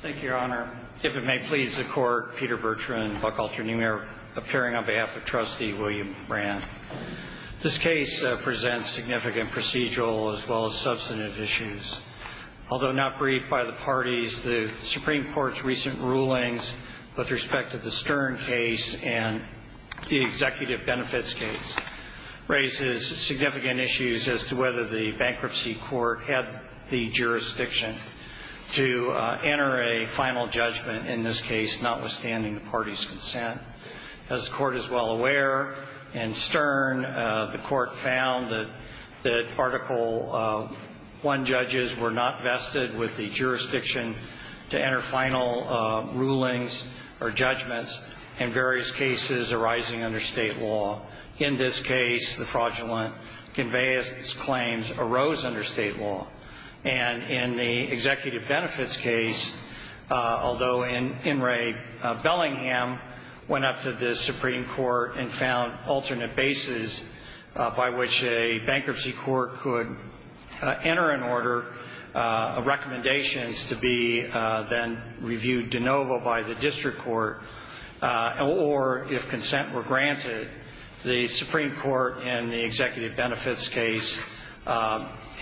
Thank you, Your Honor. If it may please the Court, Peter Bertrand, Buckalter, New York, appearing on behalf of Trustee William Brandt. This case presents significant procedural as well as substantive issues. Although not briefed by the parties, the Supreme Court's recent rulings with respect to the Stern case and the executive benefits case raises significant issues as to whether the bankruptcy court had the jurisdiction to enter a final judgment in this case, notwithstanding the parties' consent. As the Court is well aware, in Stern, the Court found that Article I judges were not vested with the jurisdiction to enter final rulings or judgments in various cases arising under state law. In this case, the fraudulent conveyance claims arose under state law. And in the executive benefits case, although In re. Bellingham went up to the Supreme Court and found alternate bases by which a bankruptcy court could enter an order of recommendations to be then reviewed de novo by the district court, or if consent were granted, the Supreme Court in the executive benefits case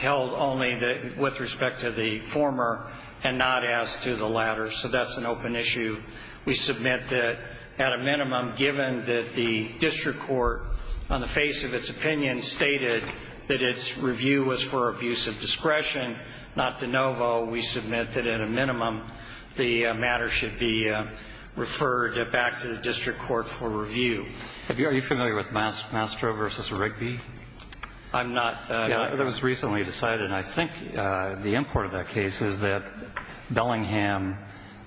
held only with respect to the former and not as to the latter. So that's an open issue. We submit that at a minimum, given that the district court, on the face of its opinion, stated that its review was for abuse of discretion, not de novo, we submit that at a minimum the matter should be referred back to the district court for review. Are you familiar with Mastro v. Rigby? I'm not. That was recently decided. And I think the import of that case is that Bellingham,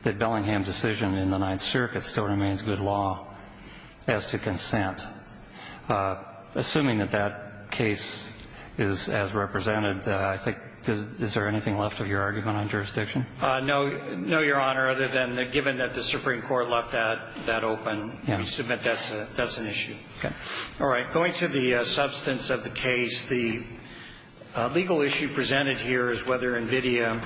that Bellingham's decision in the Ninth Circuit still remains good law as to consent. Assuming that that case is as represented, I think, is there anything left of your argument on jurisdiction? No, Your Honor, other than given that the Supreme Court left that open, we submit that's an issue. All right. Going to the substance of the case, the legal issue presented here is whether NVIDIA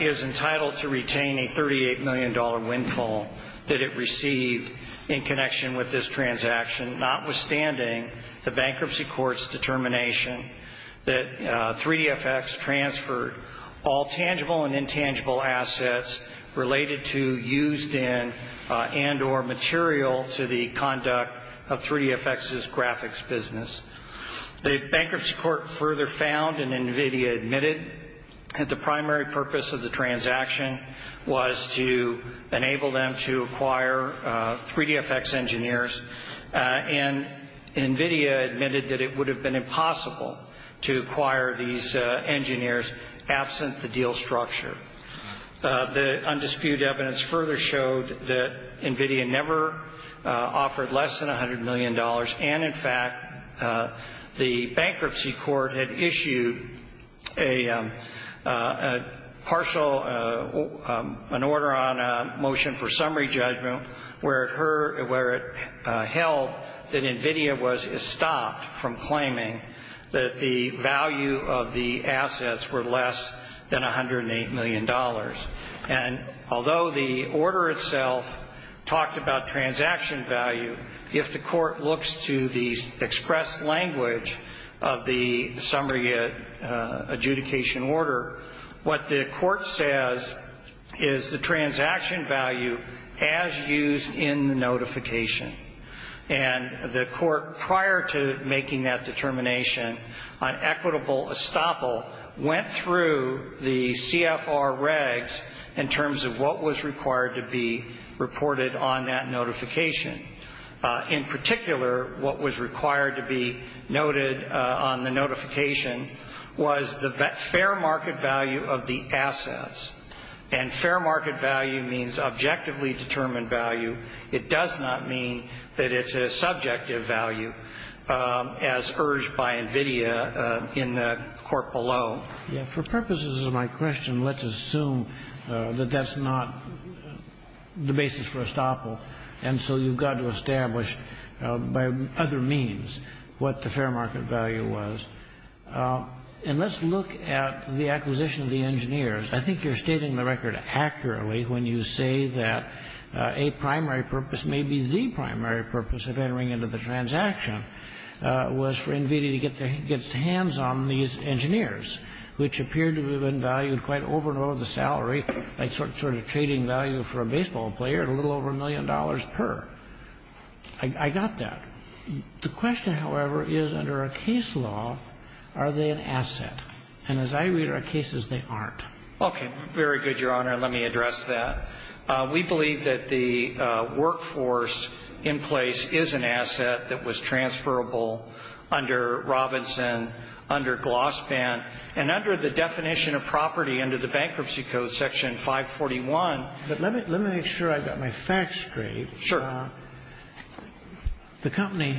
is entitled to retain a $38 million windfall that it received in connection with this transaction, notwithstanding the bankruptcy court's determination that 3DFX transferred all tangible and intangible assets related to, used in, and or material to the conduct of 3DFX's graphics business. The bankruptcy court further found, and NVIDIA admitted, that the primary purpose of the transaction was to enable them to acquire 3DFX engineers, and NVIDIA admitted that it would have been impossible to acquire these engineers absent the deal structure. The undisputed evidence further showed that NVIDIA never offered less than $100 million, and, in fact, the bankruptcy court had issued a partial, an order on a motion for summary judgment where it held that NVIDIA was estopped from claiming that the value of the assets were less than $108 million. And although the order itself talked about transaction value, if the court looks to the express language of the summary adjudication order, what the court says is the transaction value as used in the notification. And the court, prior to making that determination, on equitable estoppel, went through the CFR regs in terms of what was required to be reported on that notification. In particular, what was required to be noted on the notification was the fair market value of the assets. And fair market value means objectively determined value. It does not mean that it's a subjective value, as urged by NVIDIA in the court below. For purposes of my question, let's assume that that's not the basis for estoppel, and so you've got to establish by other means what the fair market value was. And let's look at the acquisition of the engineers. I think you're stating the record accurately when you say that a primary purpose, maybe the primary purpose of entering into the transaction, was for NVIDIA to get its hands on these engineers, which appeared to have been valued quite over and above the salary, like sort of trading value for a baseball player at a little over a million dollars per. I got that. The question, however, is under a case law, are they an asset? And as I read our cases, they aren't. Okay. Very good, Your Honor. Let me address that. We believe that the workforce in place is an asset that was transferable under Robinson, under Glossband, and under the definition of property under the Bankruptcy Code, Section 541. But let me make sure I've got my facts straight. Sure. The company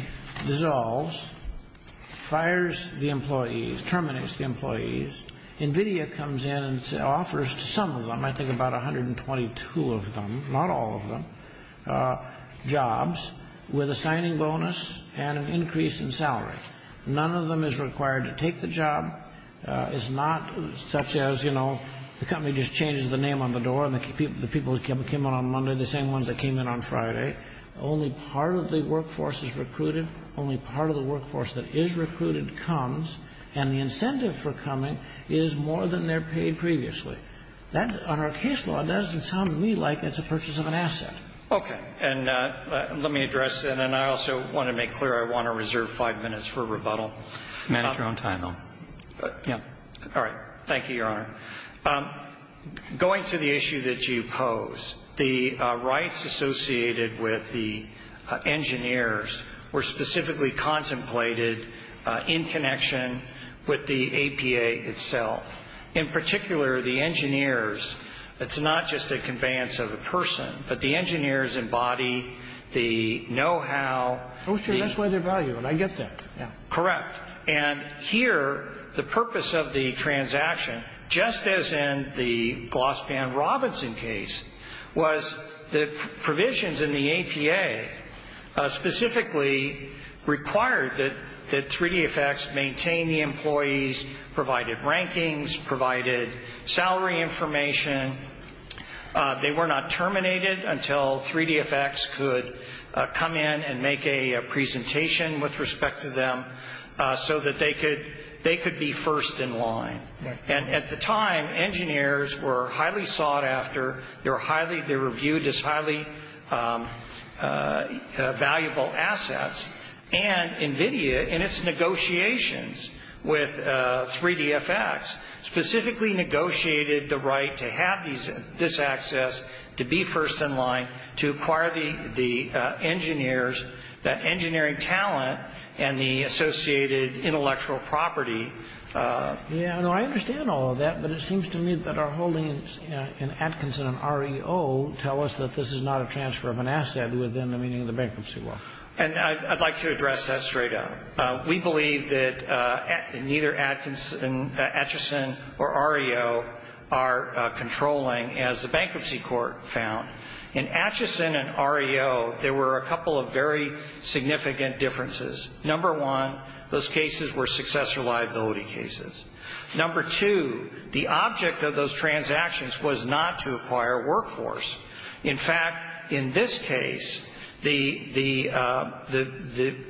dissolves, fires the employees, terminates the employees. NVIDIA comes in and offers to some of them, I think about 122 of them, not all of them, jobs with a signing bonus and an increase in salary. None of them is required to take the job. It's not such as, you know, the company just changes the name on the door, and the people that came in on Monday are the same ones that came in on Friday. Only part of the workforce is recruited. Only part of the workforce that is recruited comes, and the incentive for coming is more than they're paid previously. That, on our case law, doesn't sound to me like it's a purchase of an asset. Okay. And let me address that. And I also want to make clear I want to reserve five minutes for rebuttal. Manage your own time, though. Yeah. All right. Thank you, Your Honor. Going to the issue that you pose, the rights associated with the engineers were specifically contemplated in connection with the APA itself. In particular, the engineers, it's not just a conveyance of a person, but the engineers embody the know-how. Oh, sure, that's why they're valuable, and I get that, yeah. Correct. And here, the purpose of the transaction, just as in the Glossman-Robinson case, was the provisions in the APA specifically required that 3-D effects maintain the employees, provided rankings, provided salary information. They were not terminated until 3-D effects could come in and make a presentation with respect to them so that they could be first in line. And at the time, engineers were highly sought after. They were viewed as highly valuable assets. And NVIDIA, in its negotiations with 3-D effects, specifically negotiated the right to have this access, to be first in line, to acquire the engineers, the engineering talent, and the associated intellectual property. Yeah, no, I understand all of that, but it seems to me that our holdings in Atkinson and REO tell us that this is not a transfer of an asset within the meaning of the bankruptcy law. And I'd like to address that straight up. We believe that neither Atkinson or REO are controlling, as the bankruptcy court found, in Atkinson and REO, there were a couple of very significant differences. Number one, those cases were successor liability cases. Number two, the object of those transactions was not to acquire workforce. In fact, in this case, the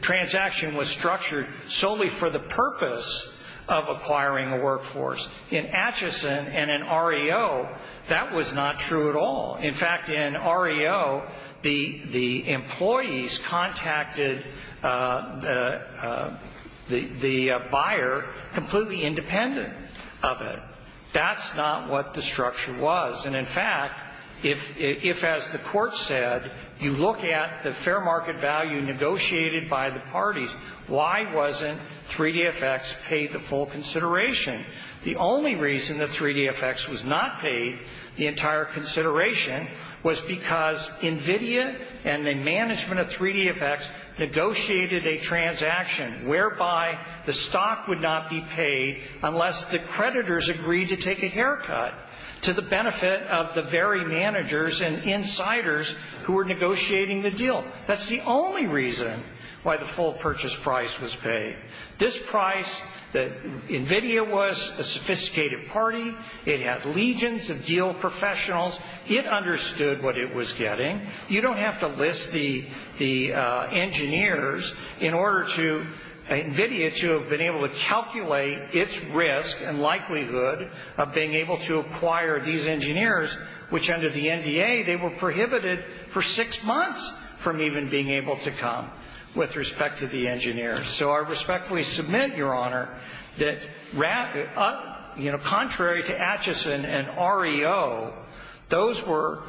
transaction was structured solely for the purpose of acquiring a workforce. In Atkinson and in REO, that was not true at all. In fact, in REO, the employees contacted the buyer completely independent of it. That's not what the structure was. And, in fact, if, as the court said, you look at the fair market value negotiated by the parties, why wasn't 3-D effects paid the full consideration? The only reason that 3-D effects was not paid the entire consideration was because NVIDIA and the management of 3-D effects negotiated a transaction whereby the stock would not be paid unless the creditors agreed to take a haircut to the benefit of the very managers and insiders who were negotiating the deal. That's the only reason why the full purchase price was paid. This price, NVIDIA was a sophisticated party. It had legions of deal professionals. It understood what it was getting. You don't have to list the engineers in order to NVIDIA to have been able to calculate its risk and likelihood of being able to acquire these engineers, which under the NDA, they were prohibited for six months from even being able to come with respect to the engineers. So I respectfully submit, Your Honor, that contrary to Atchison and REO, those were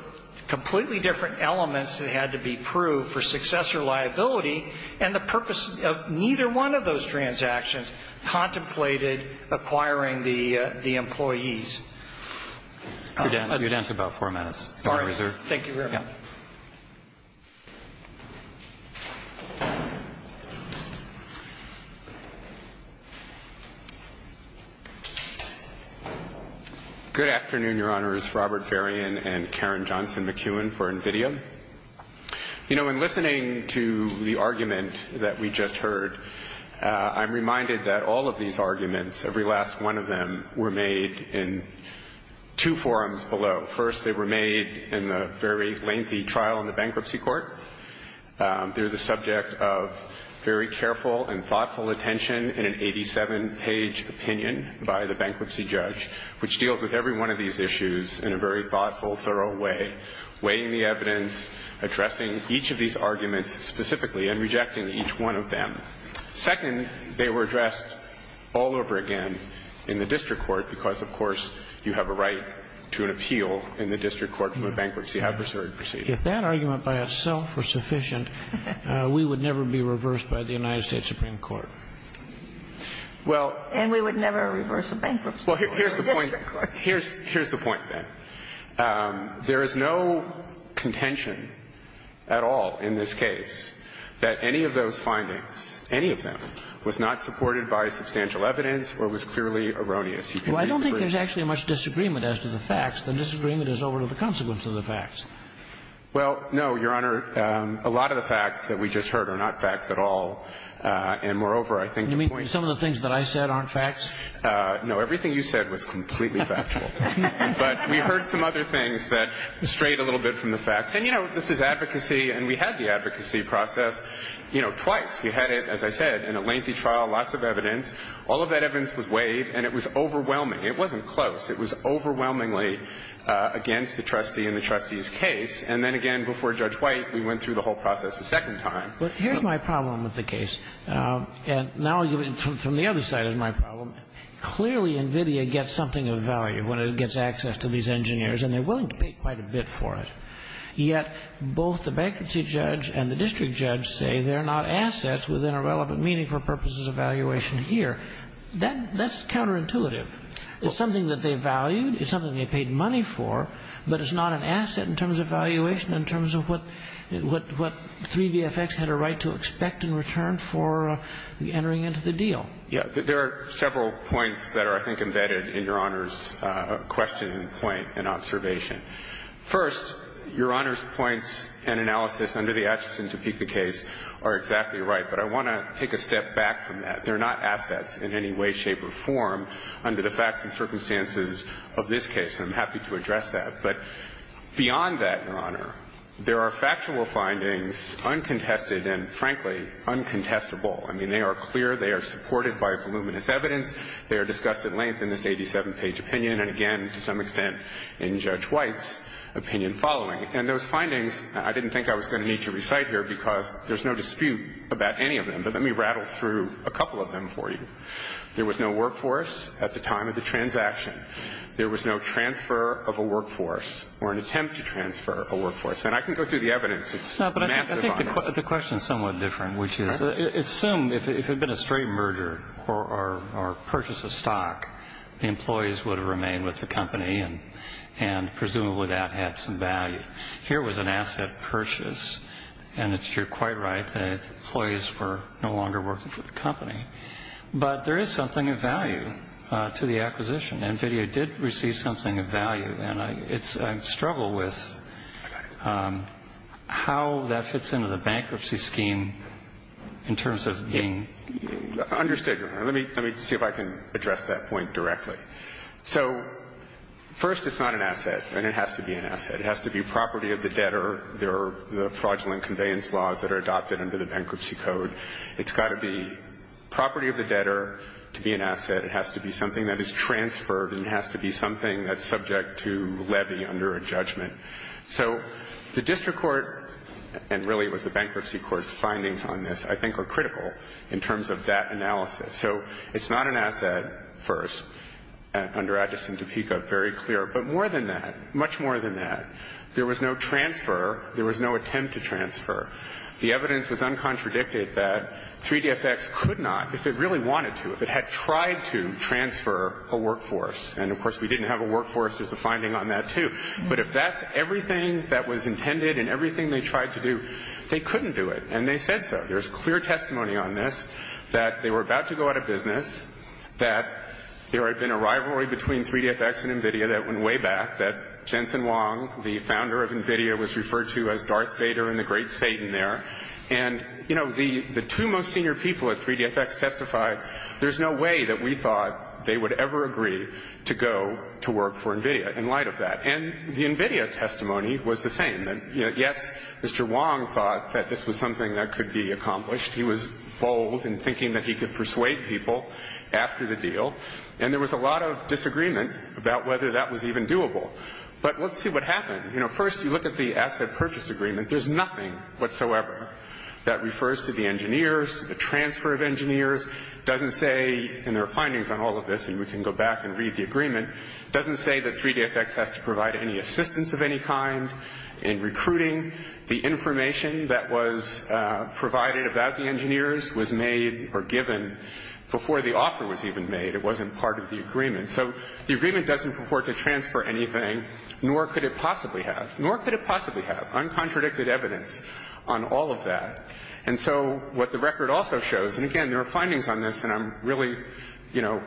completely different elements that had to be proved for successor liability, and the purpose of neither one of those transactions contemplated acquiring the employees. You're down to about four minutes. If you're reserved. Thank you, Your Honor. Yeah. Good afternoon, Your Honors. Robert Varian and Karen Johnson McEwen for NVIDIA. You know, in listening to the argument that we just heard, I'm reminded that all of these arguments, every last one of them, were made in two forms below. First, they were made in the very lengthy trial in the bankruptcy court. They're the subject of very careful and thoughtful attention in an 87-page opinion by the bankruptcy judge, which deals with every one of these issues in a very thoughtful, thorough way, weighing the evidence, addressing each of these arguments specifically, and rejecting each one of them. Second, they were addressed all over again in the district court because, of course, you have a right to an appeal in the district court from a bankruptcy adversary proceeding. If that argument by itself were sufficient, we would never be reversed by the United States Supreme Court. And we would never reverse a bankruptcy court in the district court. Well, here's the point then. There is no contention at all in this case that any of those findings, any of them, was not supported by substantial evidence or was clearly erroneous. You can read the brief. Well, I don't think there's actually much disagreement as to the facts. The disagreement is over to the consequence of the facts. Well, no, Your Honor. A lot of the facts that we just heard are not facts at all. And, moreover, I think the point is that the facts are not facts. You mean some of the things that I said aren't facts? No. Everything you said was completely factual. But we heard some other things that strayed a little bit from the facts. And, you know, this is advocacy, and we had the advocacy process, you know, twice. We had it, as I said, in a lengthy trial, lots of evidence. All of that evidence was weighed, and it was overwhelming. It wasn't close. It was overwhelmingly against the trustee in the trustee's case. And then, again, before Judge White, we went through the whole process a second time. But here's my problem with the case. And now I'll give it from the other side as my problem. Clearly, NVIDIA gets something of value when it gets access to these engineers, and they're willing to pay quite a bit for it. Yet both the bankruptcy judge and the district judge say they're not assets within a relevant, meaningful purposes of valuation here. That's counterintuitive. It's something that they valued. It's something they paid money for. But it's not an asset in terms of valuation, in terms of what 3VFX had a right to expect in return for entering into the deal. Yeah. There are several points that are, I think, embedded in Your Honor's question and point and observation. First, Your Honor's points and analysis under the Atchison-Topeka case are exactly right, but I want to take a step back from that. They're not assets in any way, shape, or form under the facts and circumstances of this case, and I'm happy to address that. But beyond that, Your Honor, there are factual findings, uncontested and, frankly, uncontestable. I mean, they are clear. They are supported by voluminous evidence. They are discussed at length in this 87-page opinion and, again, to some extent in Judge White's opinion following. And those findings, I didn't think I was going to need to recite here because there's no dispute about any of them. But let me rattle through a couple of them for you. There was no workforce at the time of the transaction. There was no transfer of a workforce or an attempt to transfer a workforce. And I can go through the evidence. It's massive on this. The question is somewhat different, which is assume if it had been a straight merger or purchase of stock, the employees would have remained with the company and presumably that had some value. Here was an asset purchase, and you're quite right. The employees were no longer working for the company. But there is something of value to the acquisition. NVIDIA did receive something of value, and I struggle with how that fits into the bankruptcy scheme in terms of being under stigma. Let me see if I can address that point directly. So first, it's not an asset, and it has to be an asset. It has to be property of the debtor. There are the fraudulent conveyance laws that are adopted under the bankruptcy code. It's got to be property of the debtor to be an asset. It has to be something that is transferred and has to be something that's subject to levy under a judgment. So the district court, and really it was the bankruptcy court's findings on this, I think are critical in terms of that analysis. So it's not an asset first under Addison-Topeka, very clear. But more than that, much more than that, there was no transfer. There was no attempt to transfer. The evidence was uncontradicted that 3DFX could not, if it really wanted to, if it had tried to transfer a workforce, and of course we didn't have a workforce. There's a finding on that, too. But if that's everything that was intended and everything they tried to do, they couldn't do it. And they said so. There's clear testimony on this that they were about to go out of business, that there had been a rivalry between 3DFX and NVIDIA that went way back, that Jensen Wong, the founder of NVIDIA, was referred to as Darth Vader and the Great Satan there. And, you know, the two most senior people at 3DFX testified, there's no way that we thought they would ever agree to go to work for NVIDIA in light of that. And the NVIDIA testimony was the same. Yes, Mr. Wong thought that this was something that could be accomplished. He was bold in thinking that he could persuade people after the deal. And there was a lot of disagreement about whether that was even doable. But let's see what happened. You know, first you look at the asset purchase agreement. There's nothing whatsoever that refers to the engineers, the transfer of engineers. It doesn't say, and there are findings on all of this, and we can go back and read the agreement, it doesn't say that 3DFX has to provide any assistance of any kind in recruiting. The information that was provided about the engineers was made or given before the offer was even made. It wasn't part of the agreement. So the agreement doesn't purport to transfer anything, nor could it possibly have. Nor could it possibly have. Uncontradicted evidence on all of that. And so what the record also shows, and, again, there are findings on this, and I'm really, you know,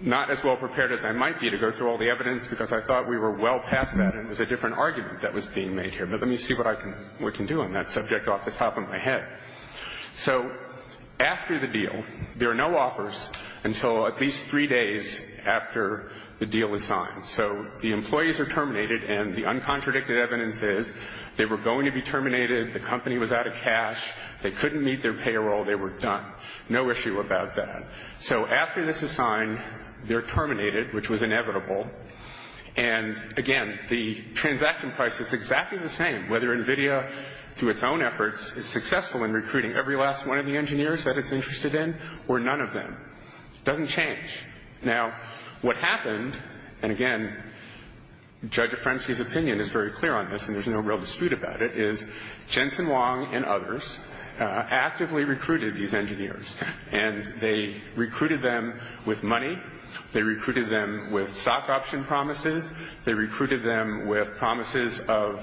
not as well prepared as I might be to go through all the evidence because I thought we were well past that, and it was a different argument that was being made here. But let me see what I can do on that subject off the top of my head. So after the deal, there are no offers until at least three days after the deal is signed. So the employees are terminated, and the uncontradicted evidence is they were going to be terminated, the company was out of cash, they couldn't meet their payroll, they were done. No issue about that. So after this is signed, they're terminated, which was inevitable. And, again, the transaction price is exactly the same, whether NVIDIA, through its own efforts, is successful in recruiting every last one of the engineers that it's interested in or none of them. It doesn't change. Now, what happened, and, again, Judge O'Frensky's opinion is very clear on this, and there's no real dispute about it, is Jensen Wong and others actively recruited these engineers, and they recruited them with money, they recruited them with stock option promises, they recruited them with promises of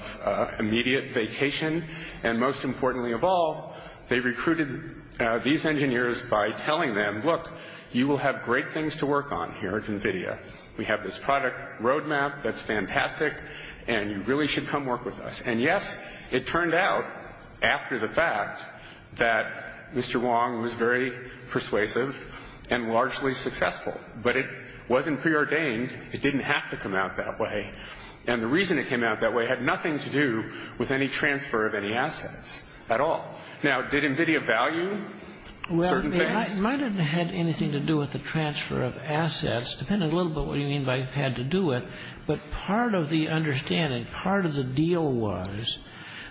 immediate vacation, and, most importantly of all, they recruited these engineers by telling them, look, you will have great things to work on here at NVIDIA. We have this product roadmap that's fantastic, and you really should come work with us. And, yes, it turned out, after the fact, that Mr. Wong was very persuasive and largely successful. But it wasn't preordained. It didn't have to come out that way. And the reason it came out that way had nothing to do with any transfer of any assets at all. Now, did NVIDIA value certain things? It might have had anything to do with the transfer of assets, depending a little bit on what you mean by had to do with, but part of the understanding, part of the deal was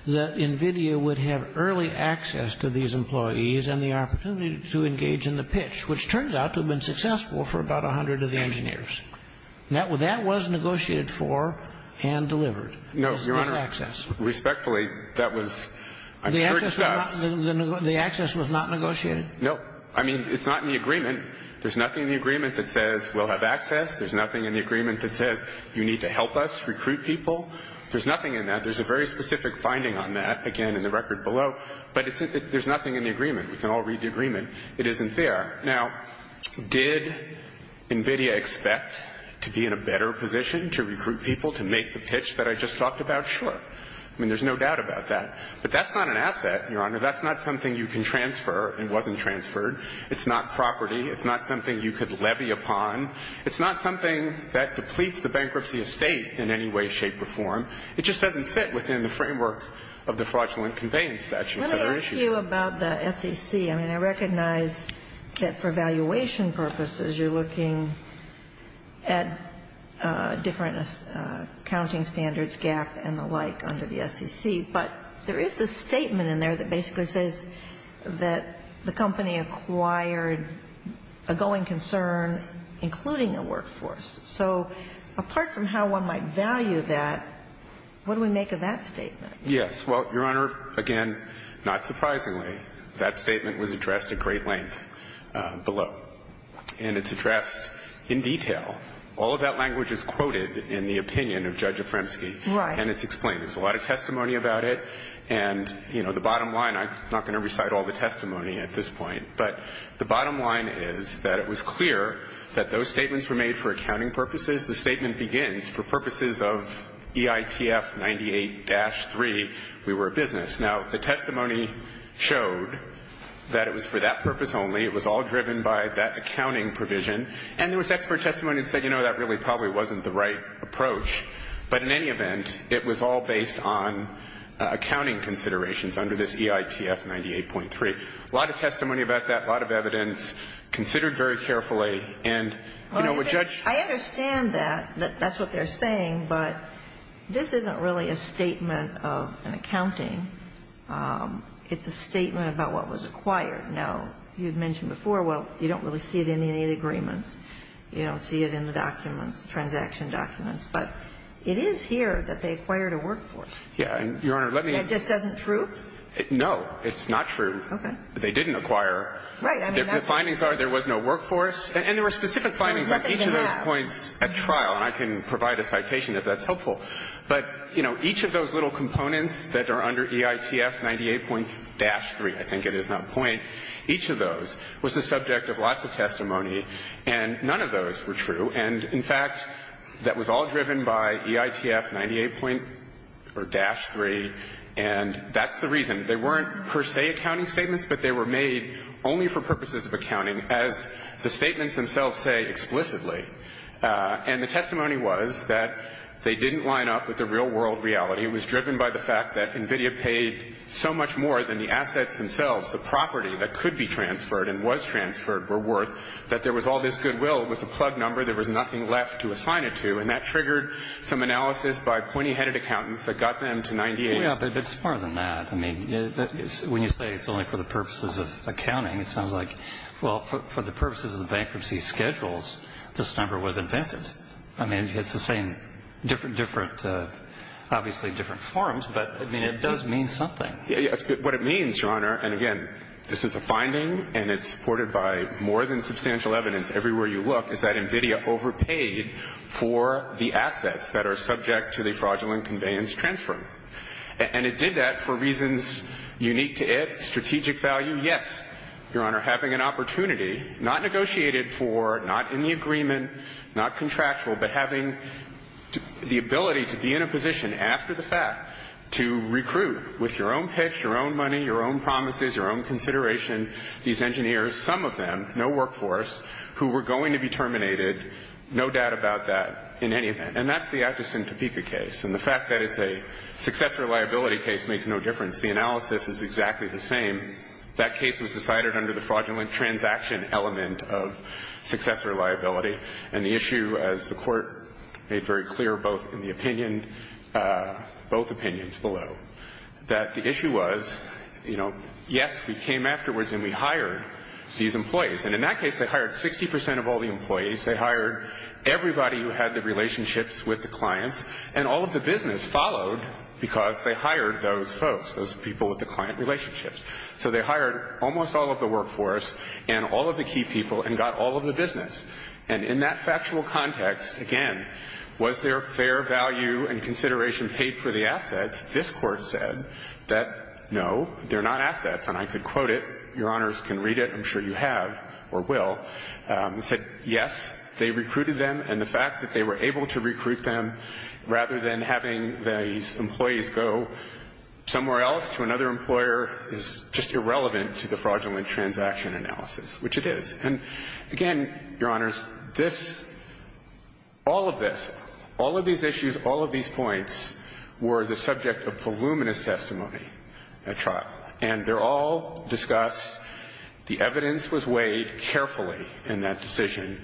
that NVIDIA would have early access to these employees and the opportunity to engage in the pitch, which turned out to have been successful for about 100 of the engineers. That was negotiated for and delivered, this access. No, Your Honor. Respectfully, that was, I'm sure, discussed. The access was not negotiated? No. I mean, it's not in the agreement. There's nothing in the agreement that says we'll have access. There's nothing in the agreement that says you need to help us recruit people. There's nothing in that. There's a very specific finding on that, again, in the record below. But there's nothing in the agreement. We can all read the agreement. It isn't there. Now, did NVIDIA expect to be in a better position to recruit people to make the pitch that I just talked about? I mean, there's no doubt about that. But that's not an asset, Your Honor. That's not something you can transfer and wasn't transferred. It's not property. It's not something you could levy upon. It's not something that depletes the bankruptcy estate in any way, shape, or form. It just doesn't fit within the framework of the fraudulent conveyance statute. Let me ask you about the SEC. I mean, I recognize that for evaluation purposes, you're looking at different accounting standards gap and the like under the SEC. But there is a statement in there that basically says that the company acquired a going concern, including a workforce. So apart from how one might value that, what do we make of that statement? Yes. Well, Your Honor, again, not surprisingly, that statement was addressed at great length below. And it's addressed in detail. All of that language is quoted in the opinion of Judge Afremsky. Right. And it's explained. There's a lot of testimony about it. And, you know, the bottom line, I'm not going to recite all the testimony at this point, but the bottom line is that it was clear that those statements were made for accounting purposes. The statement begins, for purposes of EITF 98-3, we were a business. Now, the testimony showed that it was for that purpose only. It was all driven by that accounting provision. And there was expert testimony that said, you know, that really probably wasn't the right approach. But in any event, it was all based on accounting considerations under this EITF 98.3. A lot of testimony about that. A lot of evidence considered very carefully. And, you know, a judge ---- I understand that. That's what they're saying. But this isn't really a statement of an accounting. It's a statement about what was acquired. Now, you've mentioned before, well, you don't really see it in any of the agreements. You don't see it in the documents, the transaction documents. But it is here that they acquired a workforce. Yeah. And, Your Honor, let me ---- That just doesn't prove? No. It's not true. Okay. They didn't acquire. Right. The findings are there was no workforce. And there were specific findings on each of those points at trial. And I can provide a citation if that's helpful. But, you know, each of those little components that are under EITF 98.3, I think it is that point, each of those was the subject of lots of testimony, and none of those were true. And, in fact, that was all driven by EITF 98.3. And that's the reason. They weren't, per se, accounting statements, but they were made only for purposes of accounting, as the statements themselves say explicitly. And the testimony was that they didn't line up with the real-world reality. It was driven by the fact that NVIDIA paid so much more than the assets themselves, the property that could be transferred and was transferred were worth, that there was all this goodwill. It was a plug number. There was nothing left to assign it to. And that triggered some analysis by pointy-headed accountants that got them to 98. Yeah. But it's more than that. I mean, when you say it's only for the purposes of accounting, it sounds like, well, for the purposes of the bankruptcy schedules, this number was invented. I mean, it's the same different, different, obviously different forms. But, I mean, it does mean something. Yeah. What it means, Your Honor, and, again, this is a finding, and it's supported by more than substantial evidence everywhere you look, is that NVIDIA overpaid for the assets that are subject to the fraudulent conveyance transfer. And it did that for reasons unique to it, strategic value. Yes, Your Honor, having an opportunity, not negotiated for, not in the agreement, not contractual, but having the ability to be in a position after the fact to recruit with your own pitch, your own money, your own promises, your own consideration, these engineers, some of them, no workforce, who were going to be terminated, no doubt about that in any event. And that's the Atkinson Topeka case. And the fact that it's a successor liability case makes no difference. The analysis is exactly the same. That case was decided under the fraudulent transaction element of successor liability. And the issue, as the Court made very clear both in the opinion, both opinions below, that the issue was, you know, yes, we came afterwards and we hired these employees. And in that case, they hired 60% of all the employees. They hired everybody who had the relationships with the clients. And all of the business followed because they hired those folks, those people with the client relationships. So they hired almost all of the workforce and all of the key people and got all of the business. And in that factual context, again, was there fair value and consideration paid for the assets? This Court said that, no, they're not assets. And I could quote it. Your Honors can read it. I'm sure you have or will. It said, yes, they recruited them. And the fact that they were able to recruit them rather than having these employees go somewhere else to another employer is just irrelevant to the fraudulent transaction analysis, which it is. And, again, Your Honors, this, all of this, all of these issues, all of these points were the subject of voluminous testimony at trial. And they're all discussed. The evidence was weighed carefully in that decision.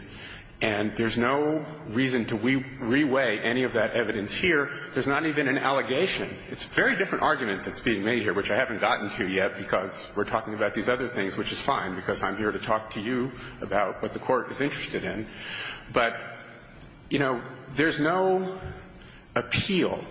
And there's no reason to re-weigh any of that evidence here. There's not even an allegation. It's a very different argument that's being made here, which I haven't gotten to yet because we're talking about these other things, which is fine because I'm here to talk to you about what the Court is interested in. But, you know, there's no appeal,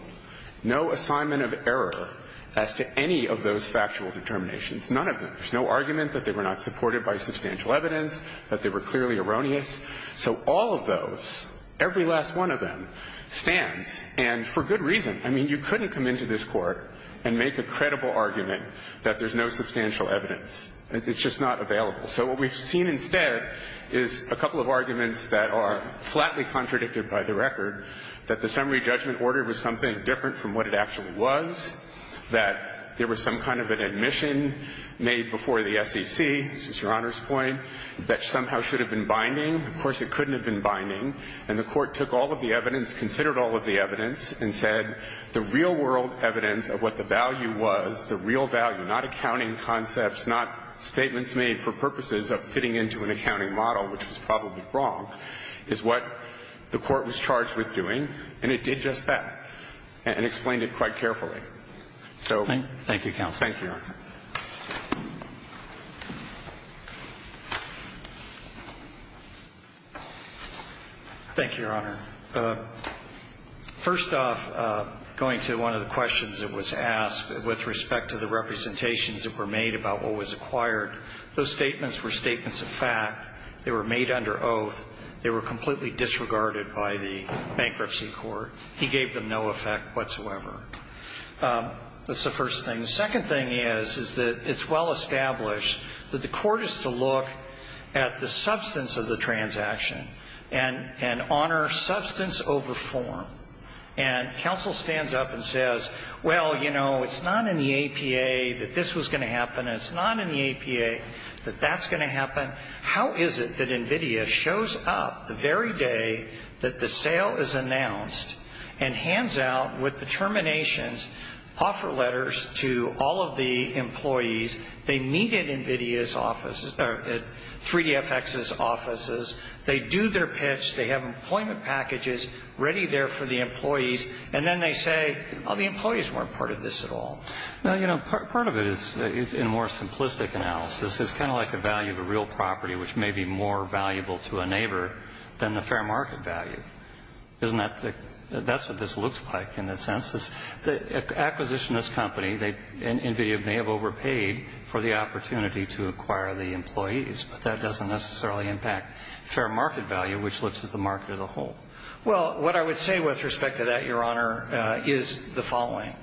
no assignment of error as to any of those factual determinations, none of them. There's no argument that they were not supported by substantial evidence, that they were clearly erroneous. So all of those, every last one of them, stands. And for good reason. I mean, you couldn't come into this Court and make a credible argument that there's no substantial evidence. It's just not available. So what we've seen instead is a couple of arguments that are flatly contradicted by the record, that the summary judgment order was something different from what it actually was, that there was some kind of an admission made before the SEC, this is Your Honor's point, that somehow should have been binding. Of course, it couldn't have been binding. And the Court took all of the evidence, considered all of the evidence, and said the real-world evidence of what the value was, the real value, not accounting concepts, not statements made for purposes of fitting into an accounting model, which was probably wrong, is what the Court was charged with doing, and it did just that, and explained it quite carefully. So... Thank you, Counsel. Thank you, Your Honor. Thank you, Your Honor. First off, going to one of the questions that was asked with respect to the representations that were made about what was acquired, those statements were statements of fact. They were made under oath. They were completely disregarded by the Bankruptcy Court. He gave them no effect whatsoever. That's the first thing. The second thing is, is that it's well established that the Court is to look at the substance of the transaction and honor substance over form. And Counsel stands up and says, well, you know, it's not in the APA that this was going to happen, and it's not in the APA that that's going to happen. How is it that NVIDIA shows up the very day that the sale is announced and hands out, with determinations, offer letters to all of the employees? They meet at NVIDIA's office, at 3DFX's offices. They do their pitch. They have employment packages ready there for the employees. And then they say, oh, the employees weren't part of this at all. Now, you know, part of it is in a more simplistic analysis. It's kind of like the value of a real property, which may be more valuable to a neighbor than the fair market value. Isn't that the – that's what this looks like in a sense. Acquisitionist company, NVIDIA may have overpaid for the opportunity to acquire the employees, but that doesn't necessarily impact fair market value, which looks at the market as a whole. Well, what I would say with respect to that, Your Honor, is the following.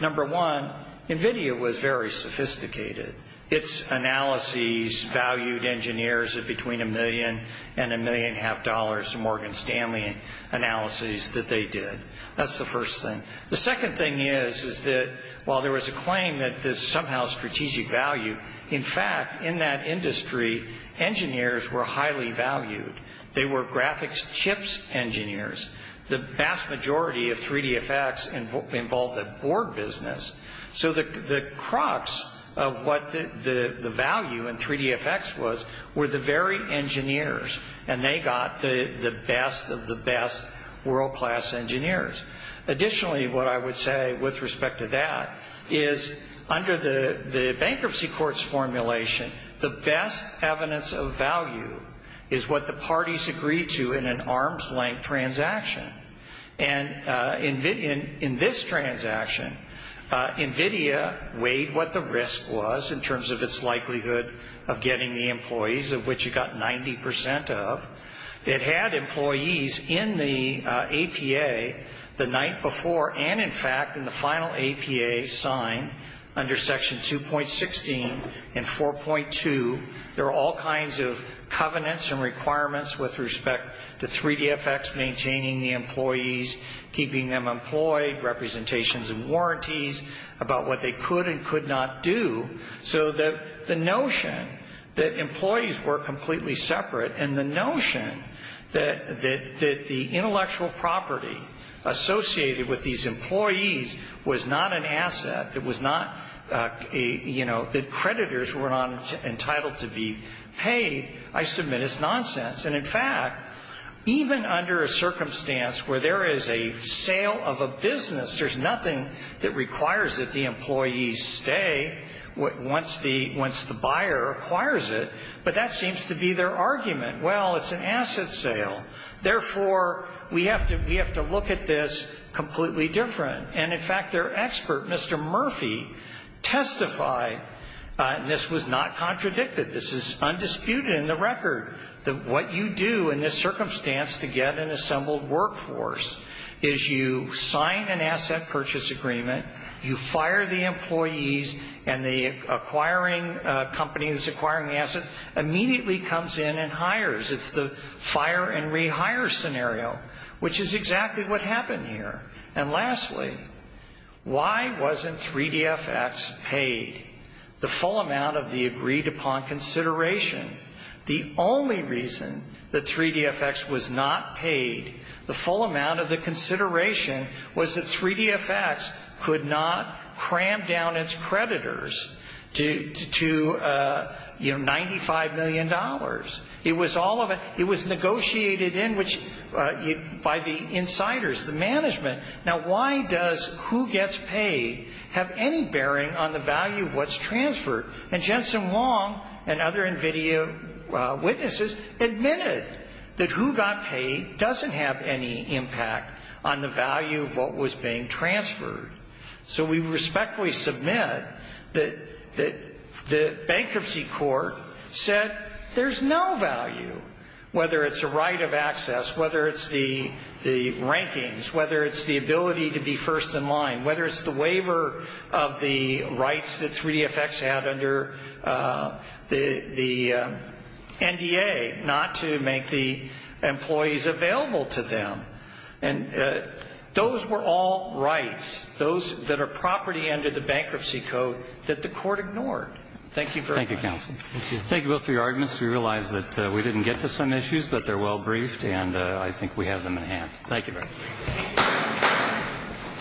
Number one, NVIDIA was very sophisticated. Its analyses valued engineers at between a million and a million and a half dollars, the Morgan Stanley analyses that they did. That's the first thing. The second thing is, is that while there was a claim that this somehow strategic value, in fact, in that industry, engineers were highly valued. They were graphics chips engineers. The vast majority of 3D effects involved a board business. So the crux of what the value in 3D effects was were the very engineers, and they got the best of the best world-class engineers. Additionally, what I would say with respect to that is under the bankruptcy court's formulation, the best evidence of value is what the parties agreed to in an arm's-length transaction. And in this transaction, NVIDIA weighed what the risk was in terms of its likelihood of getting the employees, of which it got 90 percent of. It had employees in the APA the night before and, in fact, in the final APA signed under Section 2.16 and 4.2. There are all kinds of covenants and requirements with respect to 3D effects, maintaining the employees, keeping them employed, representations and warranties, about what they could and could not do. So the notion that employees were completely separate and the notion that the intellectual property associated with these employees was not an asset, that creditors were not entitled to be paid, I submit, is nonsense. And, in fact, even under a circumstance where there is a sale of a business, there's nothing that requires that the employees stay once the buyer acquires it. But that seems to be their argument. Well, it's an asset sale. Therefore, we have to look at this completely different. And, in fact, their expert, Mr. Murphy, testified, and this was not contradicted, this is undisputed in the record, that what you do in this circumstance to get an assembled workforce is you sign an asset purchase agreement, you fire the employees, and the acquiring company that's acquiring the assets immediately comes in and hires. It's the fire and rehire scenario, which is exactly what happened here. And, lastly, why wasn't 3DFX paid the full amount of the agreed-upon consideration? The only reason that 3DFX was not paid the full amount of the consideration was that 3DFX could not cram down its creditors to $95 million. It was negotiated in by the insiders, the management. Now, why does who gets paid have any bearing on the value of what's transferred? And Jensen Wong and other NVIDIA witnesses admitted that who got paid doesn't have any impact on the value of what was being transferred. So we respectfully submit that the bankruptcy court said there's no value, whether it's the right of access, whether it's the rankings, whether it's the ability to be first in line, whether it's the waiver of the rights that 3DFX had under the NDA not to make the employees available to them. And those were all rights, those that are property under the bankruptcy code that the court ignored. Thank you very much. Thank you, counsel. Thank you both for your arguments. We realize that we didn't get to some issues, but they're well briefed, and I think we have them in hand. Thank you very much.